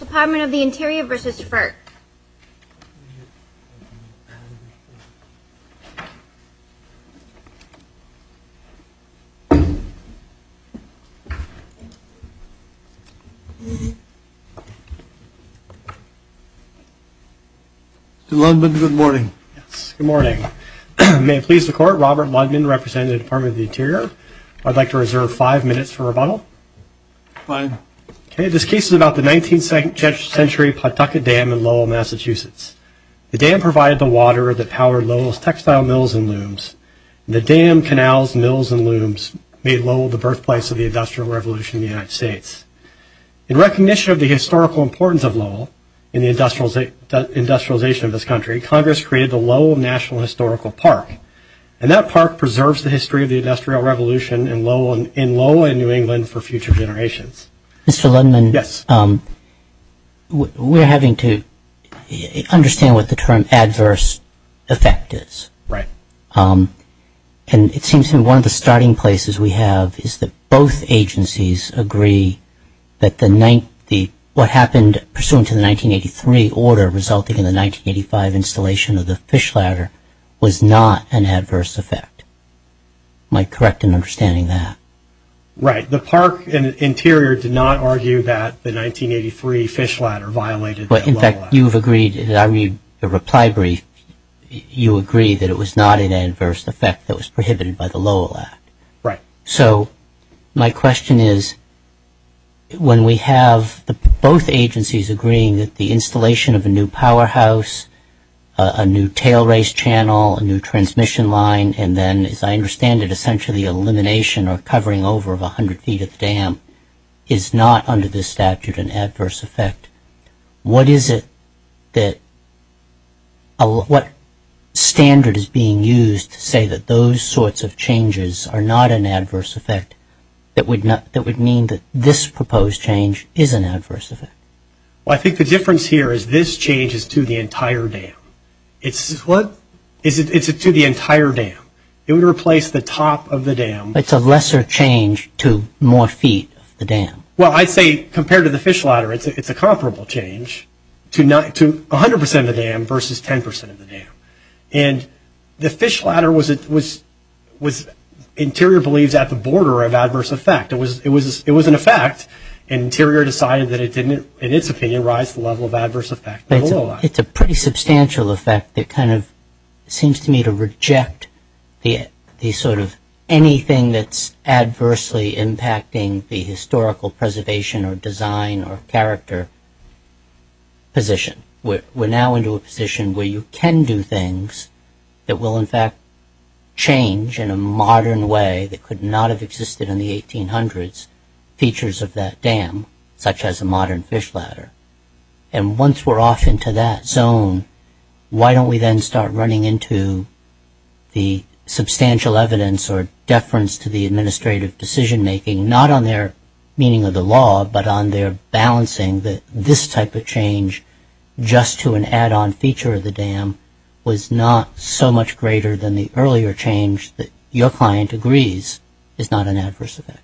Department of the Interior v. FERC Mr. Ludman, good morning. Good morning. May it please the Court, Robert Ludman representing the Department of the Interior. I'd like to reserve five minutes for rebuttal. Fine. Okay, this case is about the 19th century Pawtucket Dam in Lowell, Massachusetts. The dam provided the water that powered Lowell's textile mills and looms. The dam, canals, mills, and looms made Lowell the birthplace of the Industrial Revolution in the United States. In recognition of the historical importance of Lowell in the industrialization of this country, Congress created the Lowell National Historical Park, and that park preserves the history of the Industrial Revolution in Lowell and New England for future generations. Mr. Ludman, we're having to understand what the term adverse effect is. Right. And it seems to me one of the starting places we have is that both agencies agree that what happened pursuant to the 1983 order resulting in the 1985 installation of the fish ladder was not an adverse effect. Am I correct in understanding that? Right. The park and Interior did not argue that the 1983 fish ladder violated the Lowell Act. In fact, you've agreed, I read the reply brief, you agree that it was not an adverse effect that was prohibited by the Lowell Act. Right. So my question is, when we have both agencies agreeing that the installation of a new powerhouse, a new tailrace channel, a new transmission line, and then, as I understand it, essentially elimination or covering over of a hundred feet of dam is not under this statute an adverse effect, what is it that, what standard is being used to say that those sorts of changes are not an adverse effect that would mean that this proposed change is an adverse effect? Well, I think the answer is it's to the entire dam. It would replace the top of the dam. It's a lesser change to more feet of the dam. Well, I'd say compared to the fish ladder it's a comparable change to a hundred percent of the dam versus ten percent of the dam. And the fish ladder was, Interior believes, at the border of adverse effect. It was an effect and Interior decided that it didn't, in its opinion, rise the level of adverse effect of the Lowell Act. It's a pretty substantial effect that kind of seems to me to reject the sort of anything that's adversely impacting the historical preservation or design or character position. We're now into a position where you can do things that will in fact change in a modern way that could not have existed in the 1800s features of that dam, such as a modern fish ladder. And once we're off into that zone, why don't we then start running into the substantial evidence or deference to the administrative decision-making, not on their meaning of the law, but on their balancing that this type of change, just to an add-on feature of the dam, was not so much greater than the earlier change that your client agrees is not an adverse effect?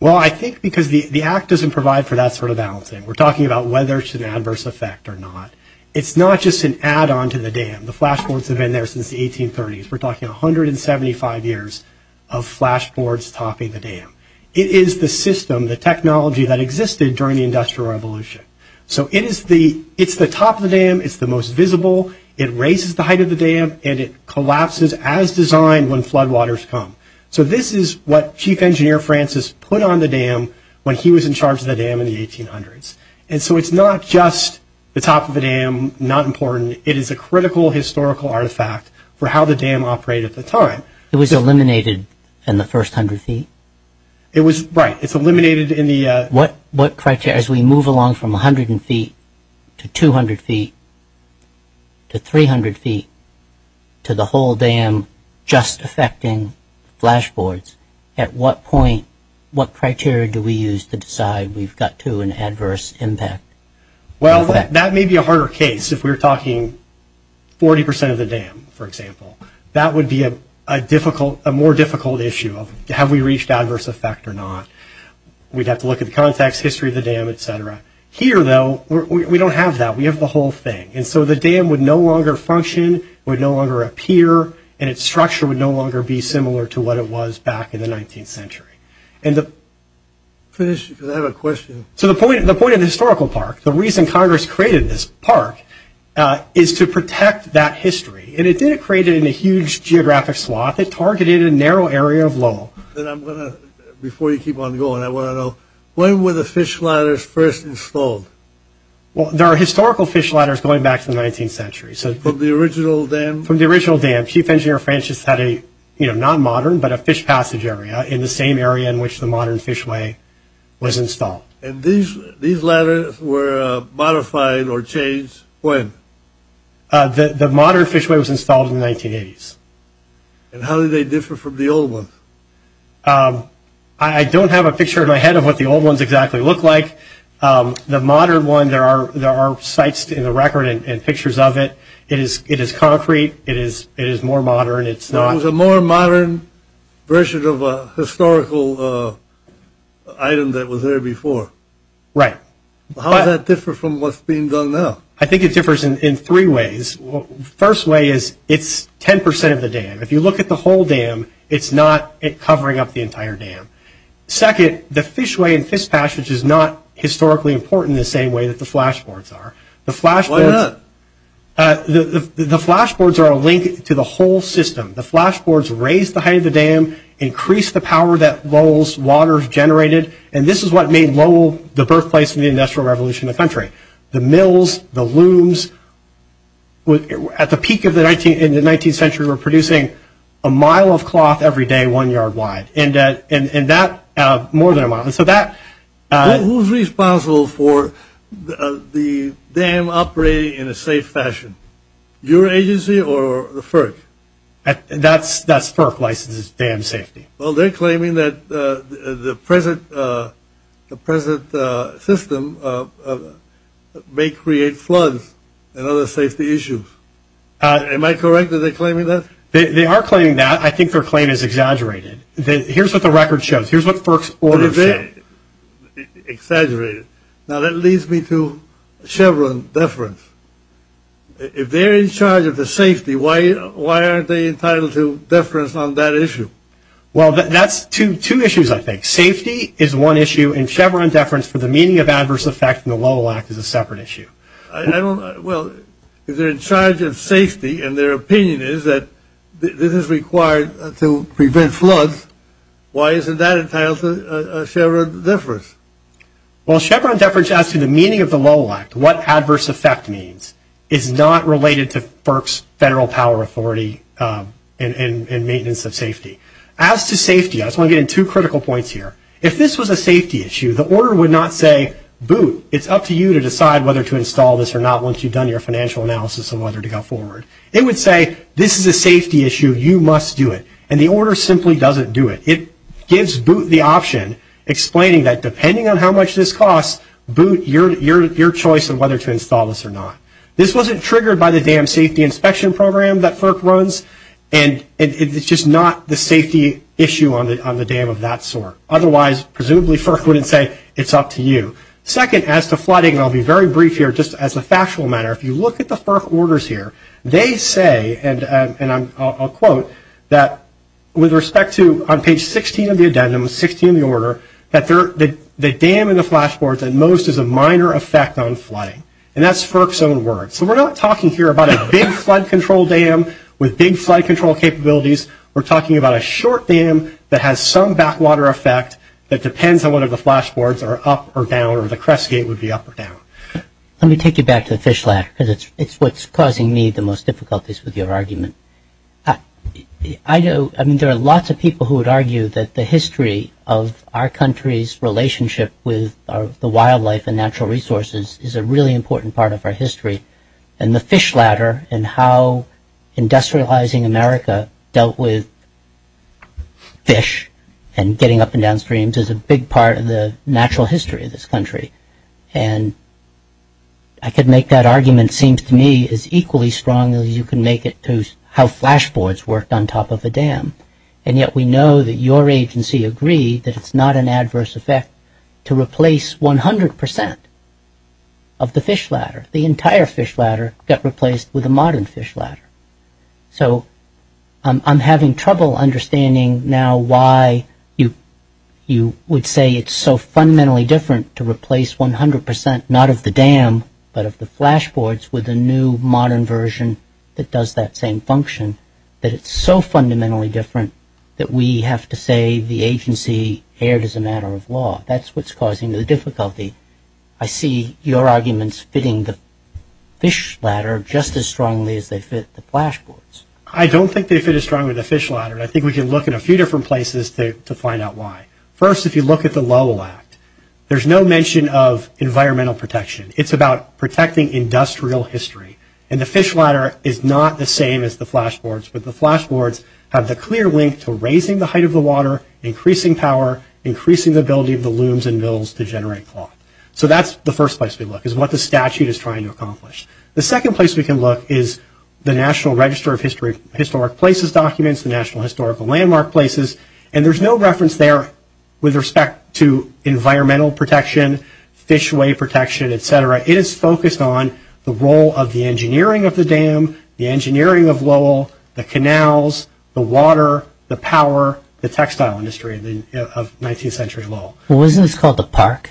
Well, I think because the Act doesn't provide for that sort of balancing. We're talking about whether it's an adverse effect or not. It's not just an add-on to the dam. The flashboards have been there since the 1830s. We're talking 175 years of flashboards topping the dam. It is the system, the technology that existed during the Industrial Revolution. So it is the, it's the top of the dam, it's the most visible, it raises the height of the dam, and it collapses as designed when floodwaters come. So this is what Chief Engineer Francis put on the dam when he was in charge of the 1800s. And so it's not just the top of the dam, not important, it is a critical historical artifact for how the dam operated at the time. It was eliminated in the first hundred feet? It was, right, it's eliminated in the... What, what criteria, as we move along from a hundred feet to 200 feet to 300 feet to the whole dam just affecting flashboards, at what point, what criteria do we use to cut to an adverse impact? Well, that may be a harder case if we're talking 40% of the dam, for example. That would be a difficult, a more difficult issue of, have we reached adverse effect or not? We'd have to look at the context, history of the dam, etc. Here though, we don't have that. We have the whole thing. And so the dam would no longer function, would no longer appear, and its structure would no longer be similar to what it was back in the 19th century. And the... Finish, because I have a question. So the point, the point of the historical park, the reason Congress created this park is to protect that history. And it didn't create it in a huge geographic swath, it targeted a narrow area of Lowell. Then I'm gonna, before you keep on going, I want to know, when were the fish ladders first installed? Well, there are historical fish ladders going back to the 19th century, so... From the original dam? From the original dam. Chief Engineer Francis had a, you know, not modern, but a fish passage area in the same area in which the modern fishway was installed. And these, these ladders were modified or changed when? The modern fishway was installed in the 1980s. And how do they differ from the old ones? I don't have a picture in my head of what the old ones exactly look like. The modern one, there are, there are sites in the record and pictures of it. It is, it is concrete, it is, it is more modern, it's not... It was a more modern version of a historical item that was there before. Right. How does that differ from what's being done now? I think it differs in three ways. First way is, it's 10% of the dam. If you look at the whole dam, it's not covering up the entire dam. Second, the fishway and fish passage is not historically important the same way that the flashboards are. The flashboards... Why not? The flashboards are a whole system. The flashboards raised the height of the dam, increased the power that Lowell's waters generated, and this is what made Lowell the birthplace of the Industrial Revolution in the country. The mills, the looms, at the peak of the 19th, in the 19th century, were producing a mile of cloth every day, one yard wide. And that, more than a mile. So that... Who's responsible for the dam operating in a safe fashion? Your agency or the FERC? That's... That's FERC licenses dam safety. Well, they're claiming that the present... the present system may create floods and other safety issues. Am I correct that they're claiming that? They are claiming that. I think their claim is exaggerated. Here's what the record shows. Here's what FERC's order says. Exaggerated. Now, that leads me to Chevron deference. If they're in charge of the safety, why... why aren't they entitled to deference on that issue? Well, that's two... two issues, I think. Safety is one issue, and Chevron deference for the meaning of adverse effect in the Lowell Act is a separate issue. I don't... Well, if they're in charge of safety, and their opinion is that this is required to prevent floods, why isn't that entitled to Chevron deference? Well, Chevron deference as to the meaning of the Lowell Act, what adverse effect means, is not related to FERC's federal power authority and... and... and maintenance of safety. As to safety, I just want to get in two critical points here. If this was a safety issue, the order would not say, boot, it's up to you to decide whether to install this or not once you've done your financial analysis of whether to go forward. It would say, this is a safety issue, you must do it. And the order simply doesn't do it. It gives boot the option, explaining that depending on how much this costs, boot your... your... your choice on whether to install this or not. This wasn't triggered by the Dam Safety Inspection Program that FERC runs, and it's just not the safety issue on the... on the dam of that sort. Otherwise, presumably FERC wouldn't say, it's up to you. Second, as to flooding, I'll be very brief here, just as a factual matter, if you look at the FERC orders here, they say, and... and I'm... I'll quote, that with respect to, on page 16 of the addendum, 16 of the order, that there... the dam and the flashboards at most is a minor effect on flooding. And that's FERC's own words. So we're not talking here about a big flood control dam with big flood control capabilities. We're talking about a short dam that has some backwater effect that depends on whether the flashboards are up or down, or the fish ladder, because it's... it's what's causing me the most difficulties with your argument. I... I know... I mean, there are lots of people who would argue that the history of our country's relationship with the wildlife and natural resources is a really important part of our history, and the fish ladder and how industrializing America dealt with fish and getting up and down streams is a big part of the natural history of this country. And I could make that argument, seems to me, as equally strong as you can make it to how flashboards worked on top of a dam. And yet we know that your agency agreed that it's not an adverse effect to replace 100% of the fish ladder. The entire fish ladder got replaced with a modern fish ladder. So I'm having trouble understanding now why you... you would say it's so fundamentally different to replace the flashboards with a new modern version that does that same function, that it's so fundamentally different that we have to say the agency erred as a matter of law. That's what's causing the difficulty. I see your arguments fitting the fish ladder just as strongly as they fit the flashboards. I don't think they fit as strongly as the fish ladder, and I think we can look at a few different places to find out why. First, if you look at the Lowell Act, there's no mention of environmental protection. It's about protecting industrial history. And the fish ladder is not the same as the flashboards, but the flashboards have the clear link to raising the height of the water, increasing power, increasing the ability of the looms and mills to generate cloth. So that's the first place we look, is what the statute is trying to accomplish. The second place we can look is the National Register of Historic Places documents, the National Historical Landmark Places, and there's no mention of environmental protection, fishway protection, etc. It is focused on the role of the engineering of the dam, the engineering of Lowell, the canals, the water, the power, the textile industry of 19th century Lowell. Well, isn't this called the park?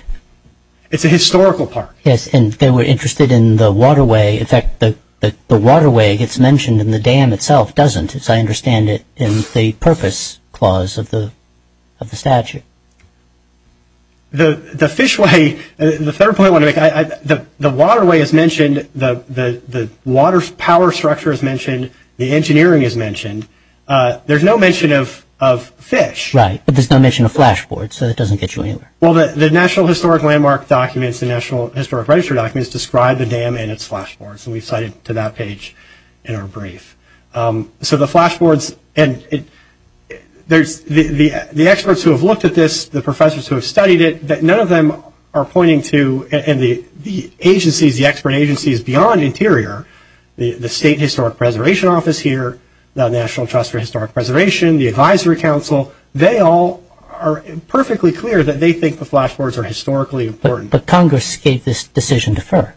It's a historical park. Yes, and they were interested in the waterway. In fact, the waterway gets mentioned, and the dam itself doesn't, as I understand it, in the purpose clause of the statute. The fishway, the third point I want to make, the waterway is mentioned, the water power structure is mentioned, the engineering is mentioned. There's no mention of fish. Right, but there's no mention of flashboards, so that doesn't get you anywhere. Well, the National Historic Landmark documents, the National Historic Register documents describe the dam and its flashboards, and we've cited to that page in our brief. So the flashboards, and there's, the experts who have looked at this, the professors who have studied it, that none of them are pointing to, and the agencies, the expert agencies beyond Interior, the State Historic Preservation Office here, the National Trust for Historic Preservation, the Advisory Council, they all are perfectly clear that they think the flashboards are historically important. But Congress gave this decision to FERC.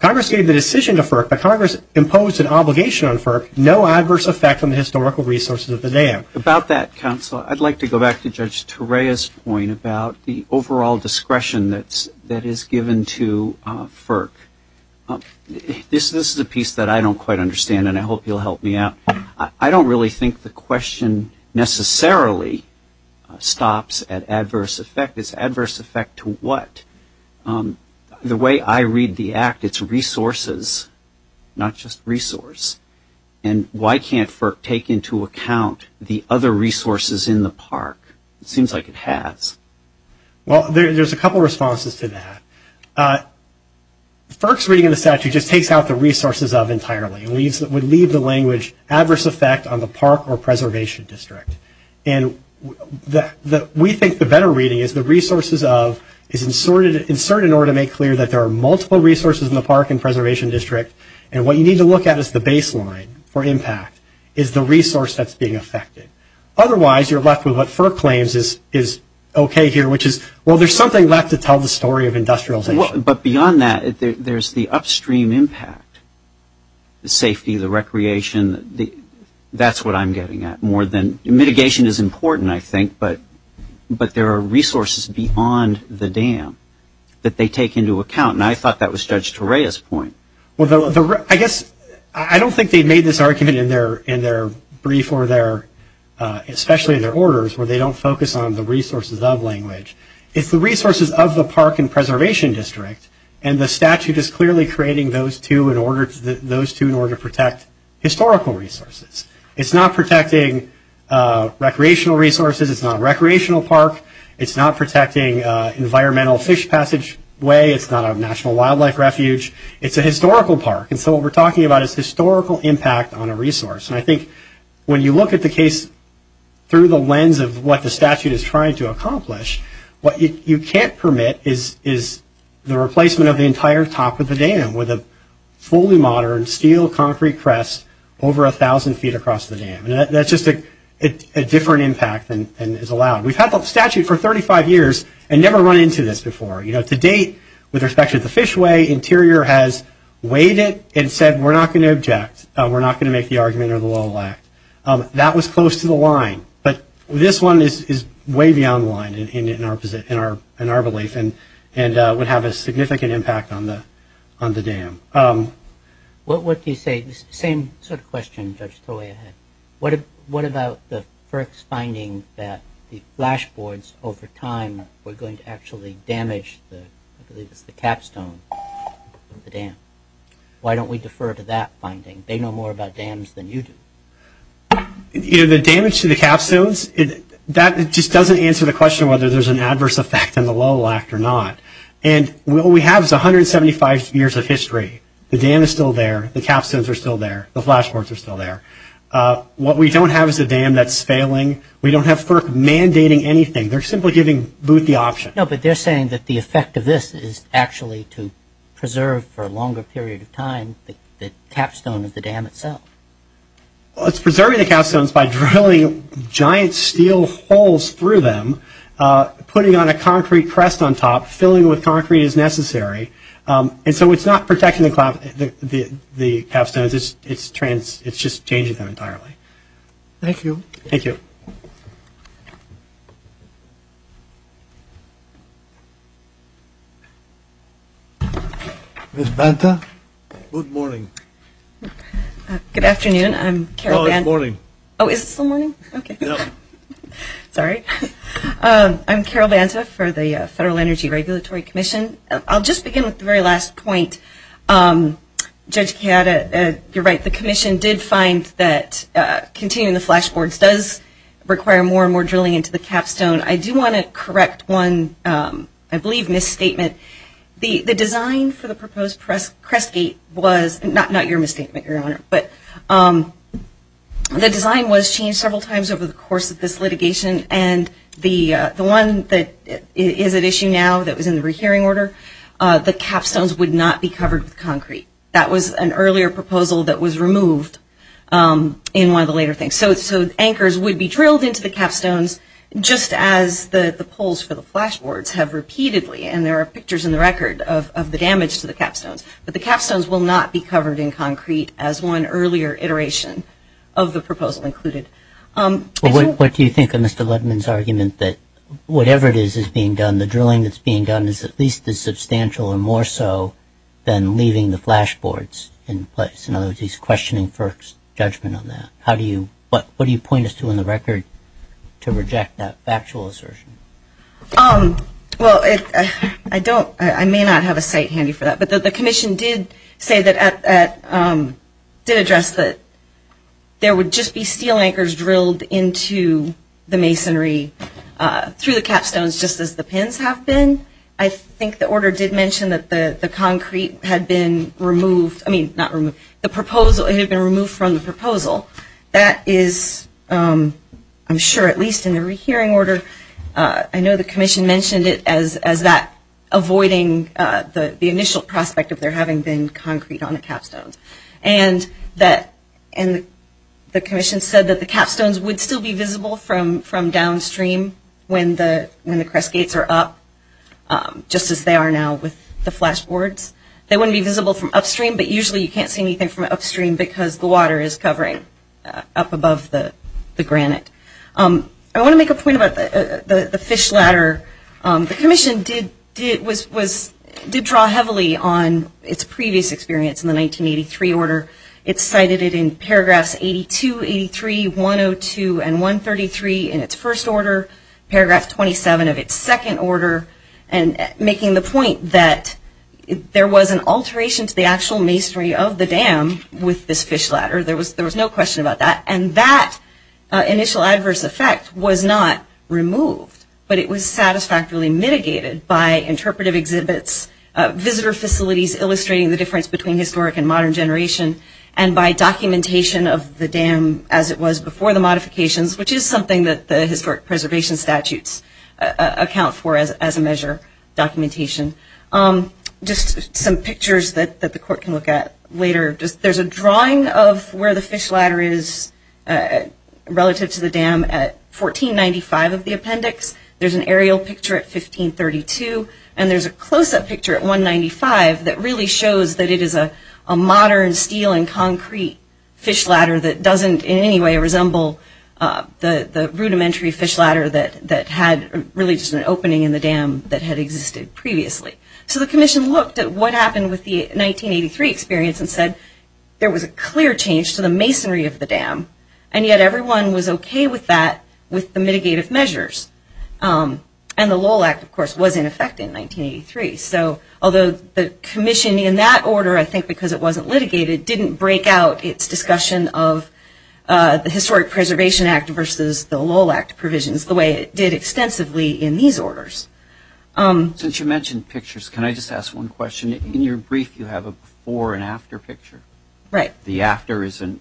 Congress gave the decision to FERC, but Congress imposed an obligation on FERC, no adverse effect on the historical resources of the dam. About that, Counsel, I'd like to go back to Judge Torea's point about the overall discretion that is given to FERC. This is a piece that I don't quite understand, and I hope you'll help me out. I don't really think the question necessarily stops at adverse effect. It's adverse effect to what? The way I read the Act, it's resources, not just resource. And why can't FERC take into account the other resources in the park? It seems like it has. Well, there's a couple responses to that. FERC's reading of the statute just takes out the resources of entirely. It would leave the language, adverse effect on the park or preservation district. And we think the better reading is the resources of is inserted in order to make clear that there are multiple resources in the park and preservation district, and what you need to look at as the baseline for impact is the resource that's being affected. Otherwise, you're left with what FERC claims is okay here, which is, well, there's something left to tell the story of industrialization. But beyond that, there's the upstream impact, the safety, the recreation. That's what I'm getting at. Mitigation is important, I think, but there are resources beyond the dam that they take into account. And I thought that was Judge Torea's point. Well, I guess I don't think they made this argument in their brief or their, especially their orders, where they don't focus on the resources of language. It's the resources of the park and preservation district, and the statute is clearly creating those two in order to protect historical resources. It's not protecting recreational resources. It's not a recreational park. It's not protecting environmental fish passageway. It's not a national wildlife refuge. It's a historical park. And so what we're talking about is historical impact on a resource. And I think when you look at the case through the lens of what the statute is trying to accomplish, what you can't permit is the replacement of the entire top of the dam with a fully modern steel concrete crest over 1,000 feet across the dam. And that's just a different impact than is allowed. We've had the statute for 35 years and never run into this before. You know, to date, with respect to the fishway, Interior has weighed it and said, we're not going to object. We're not going to make the argument or the law lack. That was close to the line. But this one is way beyond the line in our belief, and would have a significant impact on the dam. What do you say? Same sort of question, Judge Torea had. What about the FERC's finding that the flashboards over time were going to actually damage the capstone of the dam? Why don't we defer to that finding? They know more about dams than you do. You know, the damage to the capstones, that just doesn't answer the question whether there's an adverse effect on the law lack or not. And what we have is 175 years of history. The dam is still there. The capstones are still there. The flashboards are still there. What we don't have is a dam that's failing. We don't have FERC mandating anything. They're simply giving Booth the option. No, but they're saying that the effect of this is actually to preserve for a longer period of time the capstone of the dam itself. It's preserving the capstones by drilling giant steel holes through them, putting on a concrete crest on top, filling with concrete as necessary. And so it's not protecting the capstones, it's just changing them entirely. Thank you. Ms. Banta? Good morning. Good afternoon. I'm Carol Banta. Oh, it's morning. Oh, is it still morning? Yep. Sorry. I'm Carol Banta for the Federal Energy Regulatory Commission. I'll just begin with the very last point. Judge Chiata, you're right. The Commission did find that continuing the flashboards does require more and more drilling into the capstone. I do want to correct one, I believe, misstatement. The design for the proposed crest gate was, not your misstatement, Your Honor, but the design was changed several times over the course of this litigation, and the one that is at issue now that was in the rehearing order, the capstones would not be covered with concrete. That was an earlier proposal that was removed in one of the later things. So anchors would be drilled into the capstones just as the poles for the flashboards have repeatedly, and there are pictures in the record of the damage to the capstones, but the capstones will not be covered in concrete as one earlier iteration of the proposal included. What do you think of Mr. Ledman's argument that whatever it is that's being done, the drilling that's being done is at least as substantial or more so than leaving the flashboards in place? In other words, he's questioning FERC's judgment on that. What do you point us to in the record to reject that factual assertion? Well, I may not have a site handy for that, but the Commission did say that, did address that there would just be steel anchors drilled into the masonry through the capstones just as the pins have been. I think the order did mention that the concrete had been removed, I mean, not removed, the proposal, it had been removed from the proposal. That is, I'm sure at least in the rehearing order, I know the Commission mentioned it as that avoiding the initial prospect of there having been concrete on the capstones. And the Commission said that the capstones would still be visible from downstream when the crest gates are up, just as they are now with the flashboards. They wouldn't be visible from upstream, but usually you can't see anything from upstream because the water is covering up above the granite. I want to make a point about the fish ladder. The Commission did draw heavily on its previous experience in the 1983 order. It cited it in paragraphs 82, 83, 102, and 133 in its first order, paragraph 27 of its second order, and making the point that there was an alteration to the actual masonry of the dam with this fish ladder, there was no question about that. And that initial adverse effect was not removed, but it was satisfactorily mitigated by interpretive exhibits, visitor facilities illustrating the difference between historic and modern generation, and by documentation of the dam as it was before the modifications, which is something that the historic preservation statutes account for as a measure, documentation. Just some pictures that the Court can look at later. There's a drawing of where the fish ladder is relative to the dam at 1495 of the appendix. There's an aerial picture at 1532, and there's a close-up picture at 195 that really shows that it is a modern steel and concrete fish ladder that doesn't in any way resemble the rudimentary fish ladder that had really just an opening in the dam that had existed previously. So the Commission looked at what happened with the 1983 experience and said there was a clear change to the masonry of the dam, and yet everyone was okay with that, with the mitigative measures. And the Lowell Act, of course, was in effect in 1983. So although the Commission in that order, I think because it wasn't litigated, didn't break out its discussion of the Historic Preservation Act versus the Lowell Act provisions the way it did extensively in these orders. Since you mentioned pictures, can I just ask one question? In your brief you have a before and after picture. Right. The after is an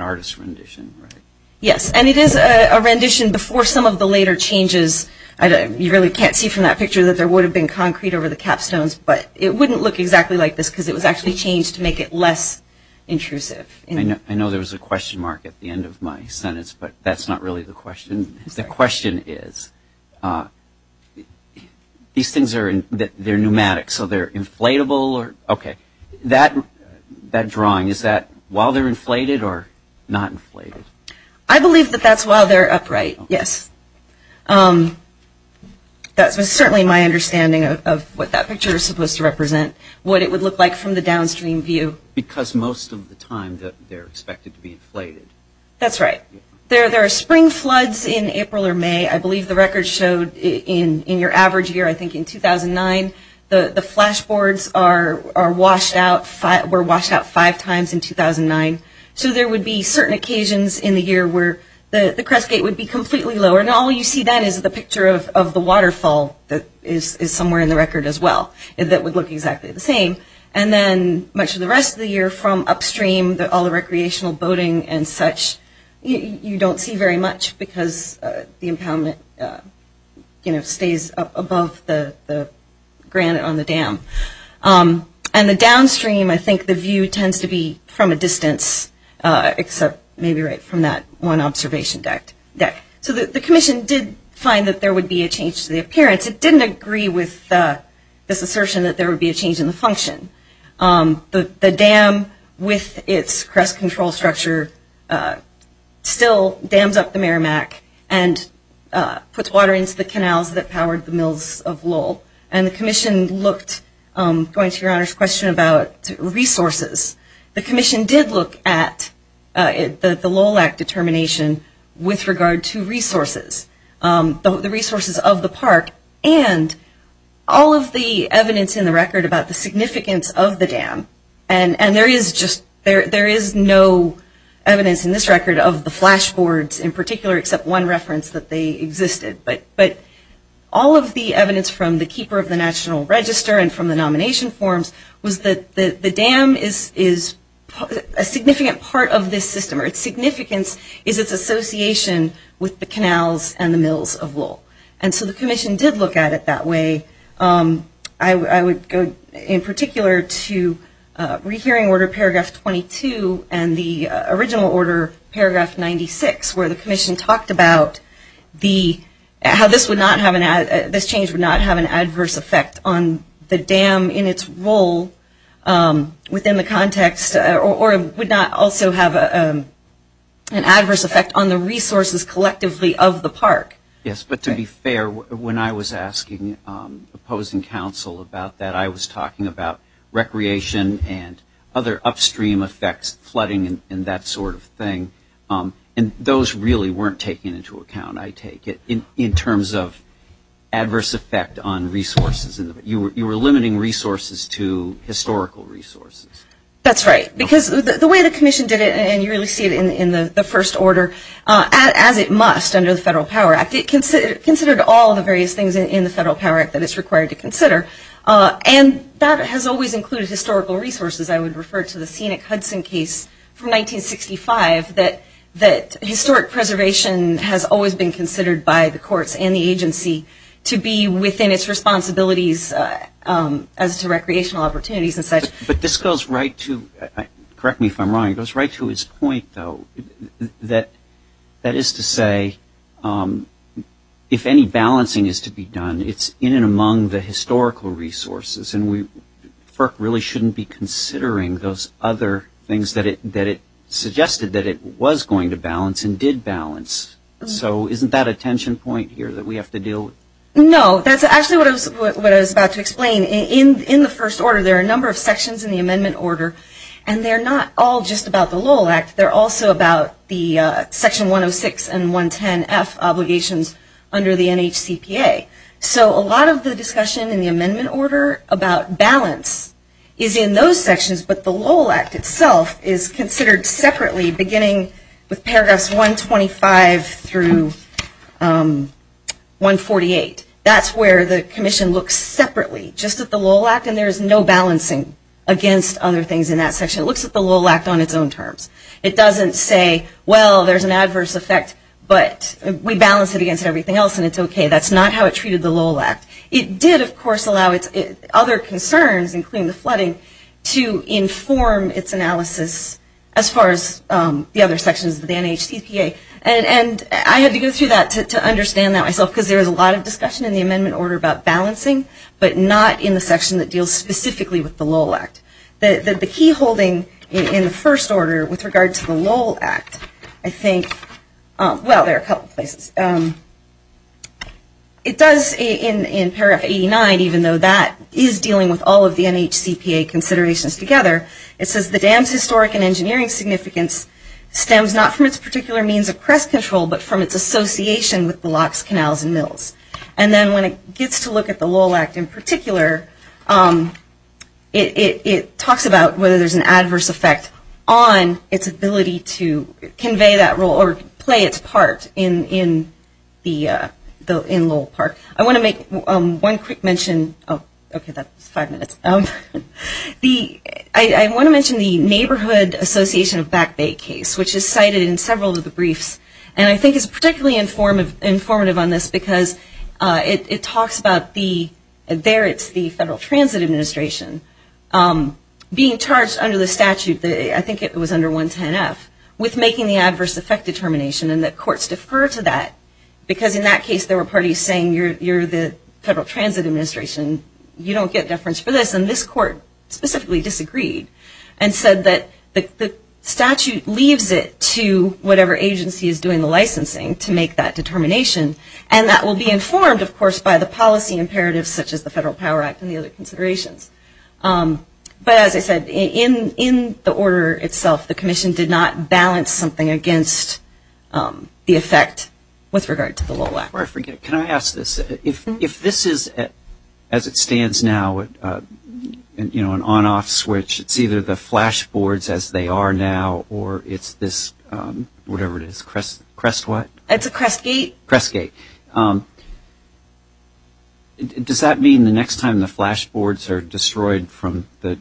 artist's rendition, right? Yes, and it is a rendition before some of the later changes. You really can't see from that picture that there would have been concrete over the capstones, but it wouldn't look exactly like this because it was actually changed to make it less intrusive. I know there was a question mark at the end of my sentence, but that's not really the question. The question is, these things are pneumatic, so they're inflatable? Okay. That drawing, is that while they're inflated or not inflated? I believe that that's while they're upright, yes. That's certainly my understanding of what that picture is supposed to represent, what it would look like from the downstream view. Because most of the time they're expected to be inflated. That's right. There are spring floods in April or May. I believe the record showed in your average year, I think in 2009, the flashboards were washed out five times in 2009. So there would be certain occasions in the year where the crest gate would be completely lower, and all you see then is the picture of the waterfall that is somewhere in the record as well, that would look exactly the same. And then much of the rest of the year from upstream, all the recreational boating and such, you don't see very much because the impoundment stays above the granite on the dam. And the downstream, I think the view tends to be from a distance, except maybe right from that one observation deck. So the commission did find that there would be a change to the appearance. It didn't agree with this assertion that there would be a change in the function. The dam with its crest control structure still dams up the Merrimack and puts water into the canals that powered the mills of Lowell. And the commission looked, going to Your Honor's question about resources, the commission did look at the Lowell Act determination with regard to resources. The resources of the park and all of the evidence in the record about the significance of the dam. And there is no evidence in this record of the flashboards in particular, except one reference that they existed. But all of the evidence from the Keeper of the National Register and from the nomination forms was that the dam is a significant part of this system. Its significance is its association with the canals and the mills of Lowell. And so the commission did look at it that way. I would go in particular to rehearing Order Paragraph 22 and the original Order Paragraph 96, where the commission talked about how this change would not have an adverse effect on the dam in its role within the context or would not also have an adverse effect on the resources collectively of the park. Yes, but to be fair, when I was asking opposing counsel about that, I was talking about recreation and other upstream effects, flooding and that sort of thing. And those really weren't taken into account, I take it, in terms of adverse effect on resources. You were limiting resources to historical resources. That's right. Because the way the commission did it, and you really see it in the first order, as it must under the Federal Power Act, it considered all the various things in the Federal Power Act that it's required to consider. And that has always included historical resources. I would refer to the Scenic Hudson case from 1965 that historic preservation has always been considered by the courts and the agency to be within its responsibilities as to recreational opportunities and such. But this goes right to, correct me if I'm wrong, it goes right to its point, though, that that is to say if any balancing is to be done, it's in and among the historical resources. And FERC really shouldn't be considering those other things that it suggested that it was going to balance and did balance. So isn't that a tension point here that we have to deal with? No, that's actually what I was about to explain. In the first order, there are a number of sections in the amendment order, and they're not all just about the Lowell Act. They're also about the Section 106 and 110F obligations under the NHCPA. So a lot of the discussion in the amendment order about balance is in those sections, but the Lowell Act itself is considered separately beginning with paragraphs 125 through 148. That's where the commission looks separately, just at the Lowell Act, and there's no balancing against other things in that section. It looks at the Lowell Act on its own terms. It doesn't say, well, there's an adverse effect, but we balance it against everything else, and it's okay. That's not how it treated the Lowell Act. It did, of course, allow other concerns, including the flooding, to inform its analysis as far as the other sections of the NHCPA, and I had to go through that to understand that myself because there was a lot of discussion in the amendment order about balancing, but not in the section that deals specifically with the Lowell Act. The key holding in the first order with regard to the Lowell Act, I think, well, there are a couple places. It does, in paragraph 89, even though that is dealing with all of the NHCPA considerations together, it says the dam's historic and engineering significance stems not from its particular means of crest control, but from its association with the locks, canals, and mills. And then when it gets to look at the Lowell Act in particular, it talks about whether there's an adverse effect on its ability to convey that role or play its part in Lowell Park. I want to make one quick mention. Okay, that's five minutes. I want to mention the Neighborhood Association of Back Bay case, which is cited in several of the briefs, and I think is particularly informative on this because it talks about the, there it's the Federal Transit Administration, being charged under the statute, I think it was under 110F, with making the adverse effect determination, and the courts defer to that because in that case there were parties saying you're the Federal Transit Administration, you don't get deference for this, and this court specifically disagreed and said that the statute leaves it to whatever agency is doing the licensing to make that determination, and that will be informed, of course, by the policy imperatives such as the Federal Power Act and the other considerations. But as I said, in the order itself, the commission did not balance something against the effect with regard to the Lowell Act. Can I ask this? If this is as it stands now, you know, an on-off switch, it's either the flash boards as they are now or it's this, whatever it is, crest what? It's a crest gate. Crest gate. Crest gate. Does that mean the next time the flash boards are destroyed from the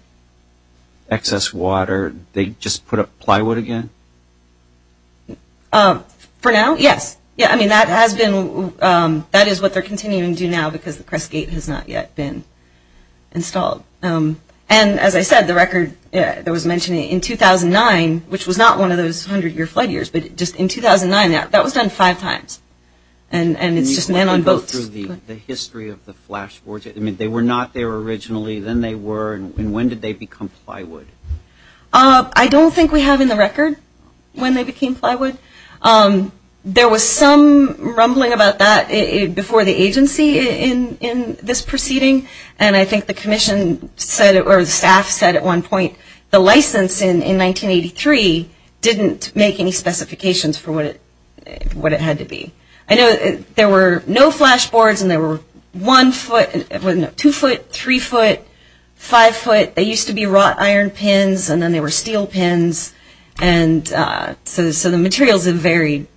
excess water, they just put up plywood again? For now, yes. Yeah, I mean that has been, that is what they're continuing to do now because the crest gate has not yet been installed. And as I said, the record that was mentioned in 2009, which was not one of those 100-year flood years, but just in 2009, that was done five times. And it's just men on boats. Can you go through the history of the flash boards? I mean, they were not there originally, then they were, and when did they become plywood? I don't think we have in the record when they became plywood. There was some rumbling about that before the agency in this proceeding, and I think the commission said, or the staff said at one point, the license in 1983 didn't make any specifications for what it had to be. I know there were no flash boards and they were one foot, two foot, three foot, five foot. They used to be wrought iron pins and then they were steel pins. And so the materials have varied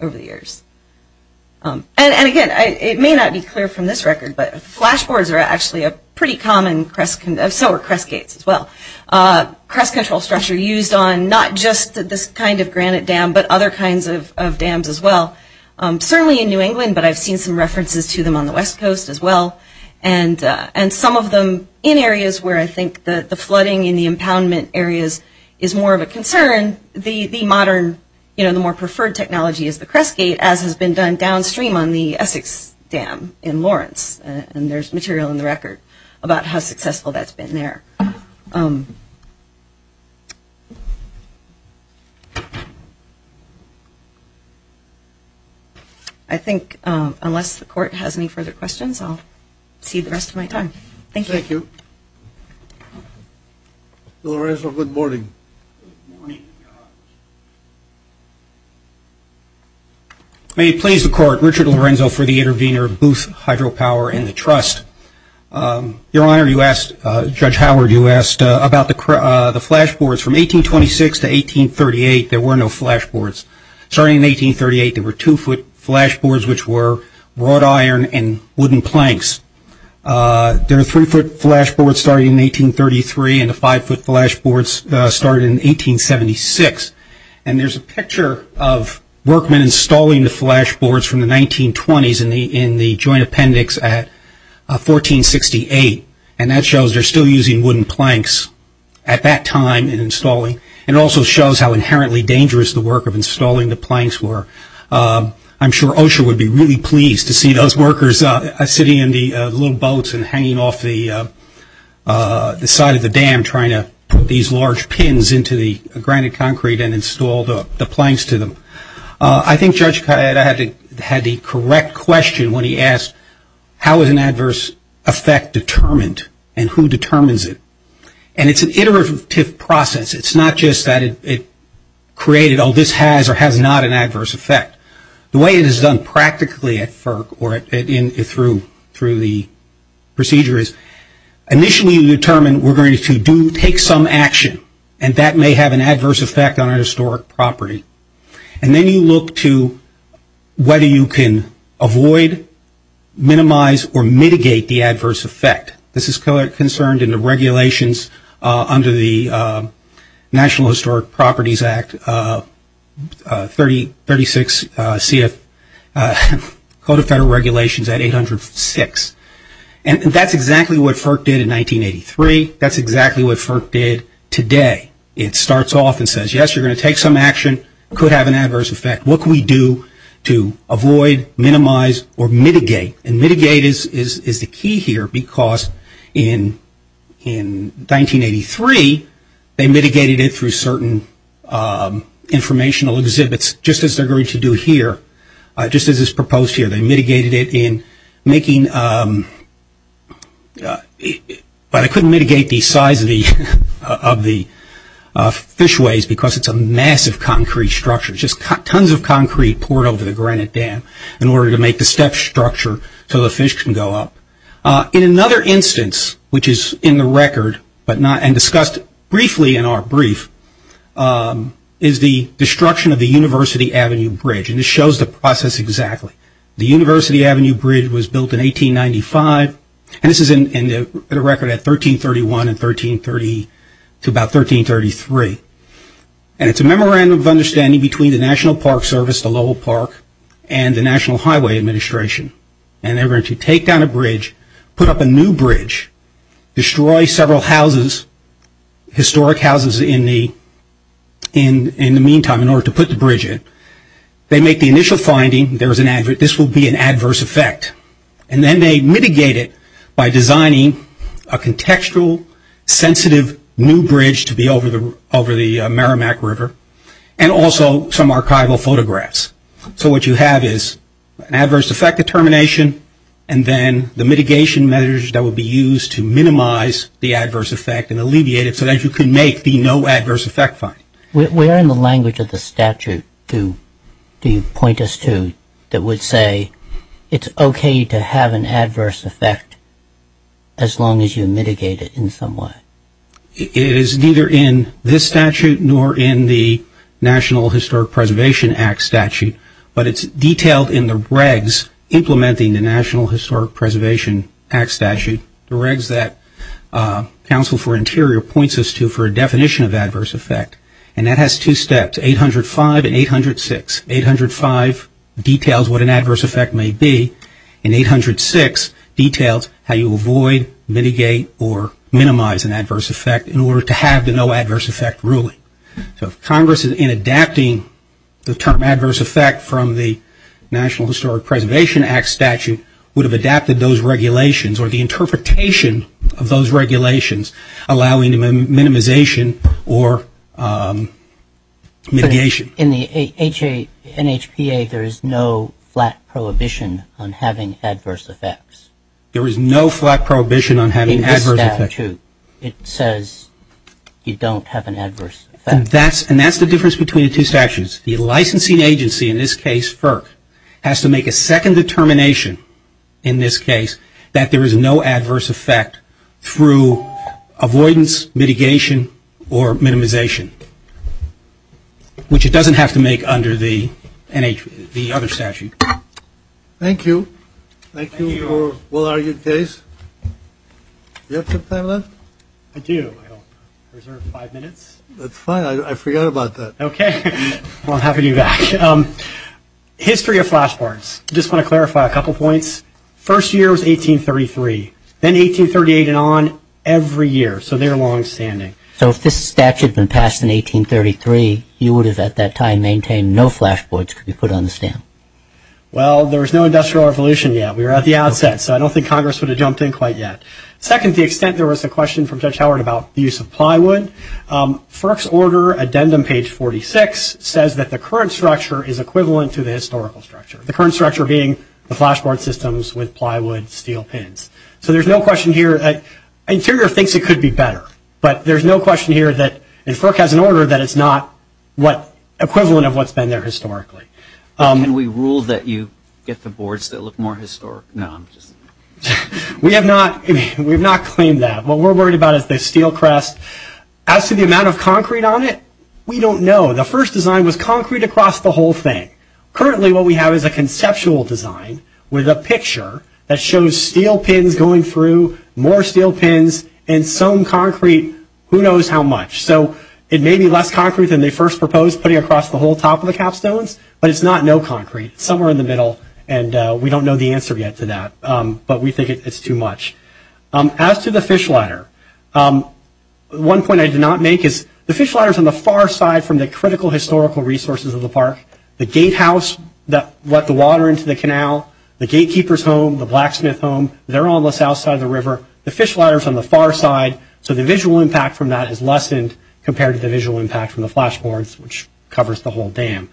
over the years. And again, it may not be clear from this record, but flash boards are actually a pretty common, so are crest gates as well. Crest control structure used on not just this kind of granite dam, but other kinds of dams as well. Certainly in New England, but I've seen some references to them on the West Coast as well. And some of them in areas where I think the flooding in the impoundment areas is more of a concern, and the modern, you know, the more preferred technology is the crest gate, as has been done downstream on the Essex Dam in Lawrence. And there's material in the record about how successful that's been there. I think unless the court has any further questions, I'll cede the rest of my time. Thank you. Thank you. Lorenzo, good morning. Good morning. May it please the Court, Richard Lorenzo for the intervener, Booth Hydropower and the Trust. Your Honor, you asked, Judge Howard, you asked about the flash boards. From 1826 to 1838, there were no flash boards. Starting in 1838, there were two foot flash boards, which were wrought iron and wooden planks. There were three foot flash boards starting in 1833, and the five foot flash boards started in 1876. And there's a picture of workmen installing the flash boards from the 1920s in the joint appendix at 1468. And that shows they're still using wooden planks at that time in installing. And it also shows how inherently dangerous the work of installing the planks were. I'm sure Osher would be really pleased to see those workers sitting in the little boats and hanging off the side of the dam trying to put these large pins into the granite concrete and install the planks to them. I think Judge Kayette had the correct question when he asked how is an adverse effect determined and who determines it. And it's an iterative process. It's not just that it created, oh, this has or has not an adverse effect. The way it is done practically at FERC or through the procedure is initially you determine we're going to take some action, and that may have an adverse effect on our historic property. And then you look to whether you can avoid, minimize, or mitigate the adverse effect. This is concerned in the regulations under the National Historic Properties Act, 36 CF Code of Federal Regulations at 806. And that's exactly what FERC did in 1983. That's exactly what FERC did today. It starts off and says, yes, you're going to take some action. It could have an adverse effect. What can we do to avoid, minimize, or mitigate? And mitigate is the key here because in 1983 they mitigated it through certain informational exhibits, just as they're going to do here, just as is proposed here. They mitigated it in making, but they couldn't mitigate the size of the fishways because it's a massive concrete structure, just tons of concrete poured over the granite dam in order to make the step structure so the fish can go up. In another instance, which is in the record and discussed briefly in our brief, is the destruction of the University Avenue Bridge. And this shows the process exactly. The University Avenue Bridge was built in 1895, and this is in the record at 1331 to about 1333. And it's a memorandum of understanding between the National Park Service, the Lowell Park, and the National Highway Administration. And they're going to take down a bridge, put up a new bridge, destroy several houses, historic houses in the meantime in order to put the bridge in. They make the initial finding, this will be an adverse effect. And then they mitigate it by designing a contextual, sensitive new bridge to be over the Merrimack River, and also some archival photographs. So what you have is an adverse effect determination, and then the mitigation measures that would be used to minimize the adverse effect and alleviate it so that you can make the no adverse effect finding. Where in the language of the statute do you point us to that would say it's okay to have an adverse effect as long as you mitigate it in some way? It is neither in this statute nor in the National Historic Preservation Act statute, but it's detailed in the regs implementing the National Historic Preservation Act statute, the regs that Council for Interior points us to for a definition of adverse effect. And that has two steps, 805 and 806. 805 details what an adverse effect may be, and 806 details how you avoid, mitigate, or minimize an adverse effect in order to have the no adverse effect ruling. So if Congress in adapting the term adverse effect from the National Historic Preservation Act statute would have adapted those regulations or the interpretation of those regulations allowing minimization or mitigation. In the NHPA there is no flat prohibition on having adverse effects. There is no flat prohibition on having adverse effects. In this statute it says you don't have an adverse effect. And that's the difference between the two statutes. The licensing agency, in this case FERC, has to make a second determination in this case that there is no adverse effect through avoidance, mitigation, or minimization, which it doesn't have to make under the other statute. Thank you. Thank you for your well-argued case. Do you have some time left? I do. I reserve five minutes. That's fine. I forgot about that. Okay. Well, I'm happy to be back. History of flashboards. I just want to clarify a couple points. First year was 1833. Then 1838 and on every year. So they're longstanding. So if this statute had been passed in 1833, you would have at that time maintained no flashboards could be put on the stand. Well, there was no industrial revolution yet. We were at the outset. So I don't think Congress would have jumped in quite yet. Second, to the extent there was a question from Judge Howard about the use of plywood, FERC's order, addendum page 46, says that the current structure is equivalent to the historical structure, the current structure being the flashboard systems with plywood steel pins. So there's no question here. Interior thinks it could be better. But there's no question here that if FERC has an order, that it's not equivalent of what's been there historically. And we ruled that you get the boards that look more historic. No, I'm just. We have not. We have not claimed that. What we're worried about is the steel crest. As to the amount of concrete on it, we don't know. The first design was concrete across the whole thing. Currently what we have is a conceptual design with a picture that shows steel pins going through, more steel pins, and some concrete who knows how much. So it may be less concrete than they first proposed putting across the whole top of the capstones, but it's not no concrete. It's somewhere in the middle, and we don't know the answer yet to that. But we think it's too much. As to the fish ladder, one point I did not make is the fish ladder is on the far side from the critical historical resources of the park. The gatehouse that let the water into the canal, the gatekeeper's home, the blacksmith home, they're all on the south side of the river. The fish ladder is on the far side, so the visual impact from that is lessened compared to the visual impact from the flashboards, which covers the whole dam.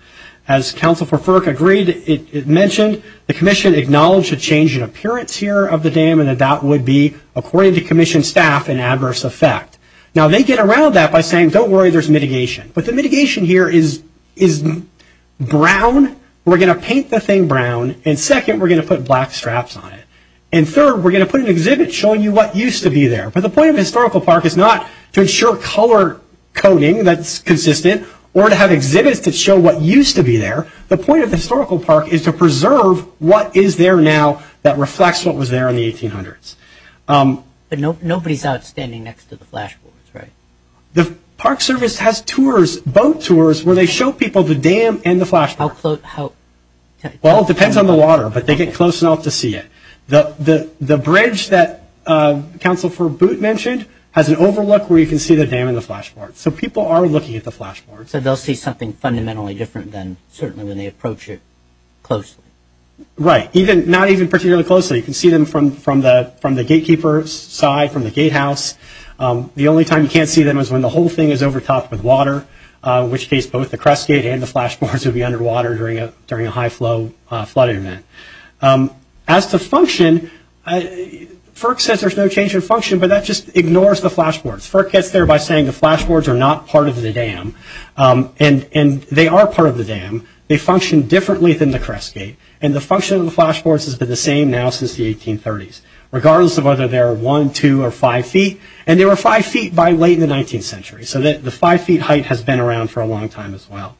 As Council for FERC agreed, it mentioned the commission acknowledged a change in appearance here of the dam and that that would be, according to commission staff, an adverse effect. Now they get around that by saying, don't worry, there's mitigation. But the mitigation here is brown. We're going to paint the thing brown, and second, we're going to put black straps on it. And third, we're going to put an exhibit showing you what used to be there. But the point of a historical park is not to ensure color coding that's consistent or to have exhibits that show what used to be there. The point of the historical park is to preserve what is there now that reflects what was there in the 1800s. But nobody's out standing next to the flashboards, right? The Park Service has tours, boat tours, where they show people the dam and the flashboards. How close? Well, it depends on the water, but they get close enough to see it. The bridge that Council for BOOT mentioned has an overlook where you can see the dam and the flashboards. So people are looking at the flashboards. So they'll see something fundamentally different than certainly when they approach it closely. Right. Not even particularly closely. You can see them from the gatekeeper's side, from the gatehouse. The only time you can't see them is when the whole thing is overtopped with water, in which case both the crest gate and the flashboards would be underwater during a high-flow flood event. As to function, FERC says there's no change in function, but that just ignores the flashboards. FERC gets there by saying the flashboards are not part of the dam. And they are part of the dam. They function differently than the crest gate. And the function of the flashboards has been the same now since the 1830s, regardless of whether they're one, two, or five feet. And they were five feet by late in the 19th century. So the five-feet height has been around for a long time as well.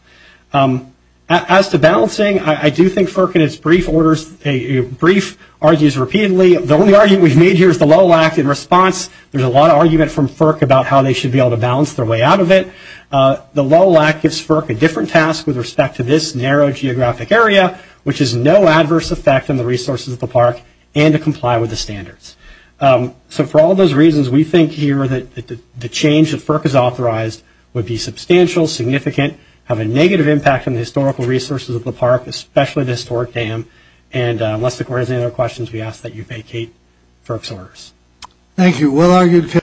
As to balancing, I do think FERC in its brief orders argues repeatedly. The only argument we've made here is the Lowell Act. In response, there's a lot of argument from FERC about how they should be able to balance their way out of it. The Lowell Act gives FERC a different task with respect to this narrow geographic area, which is no adverse effect on the resources of the park and to comply with the standards. So for all those reasons, we think here that the change that FERC has authorized would be substantial, significant, have a negative impact on the historical resources of the park, especially the historic dam. And unless the Court has any other questions, we ask that you vacate FERC's orders. Thank you.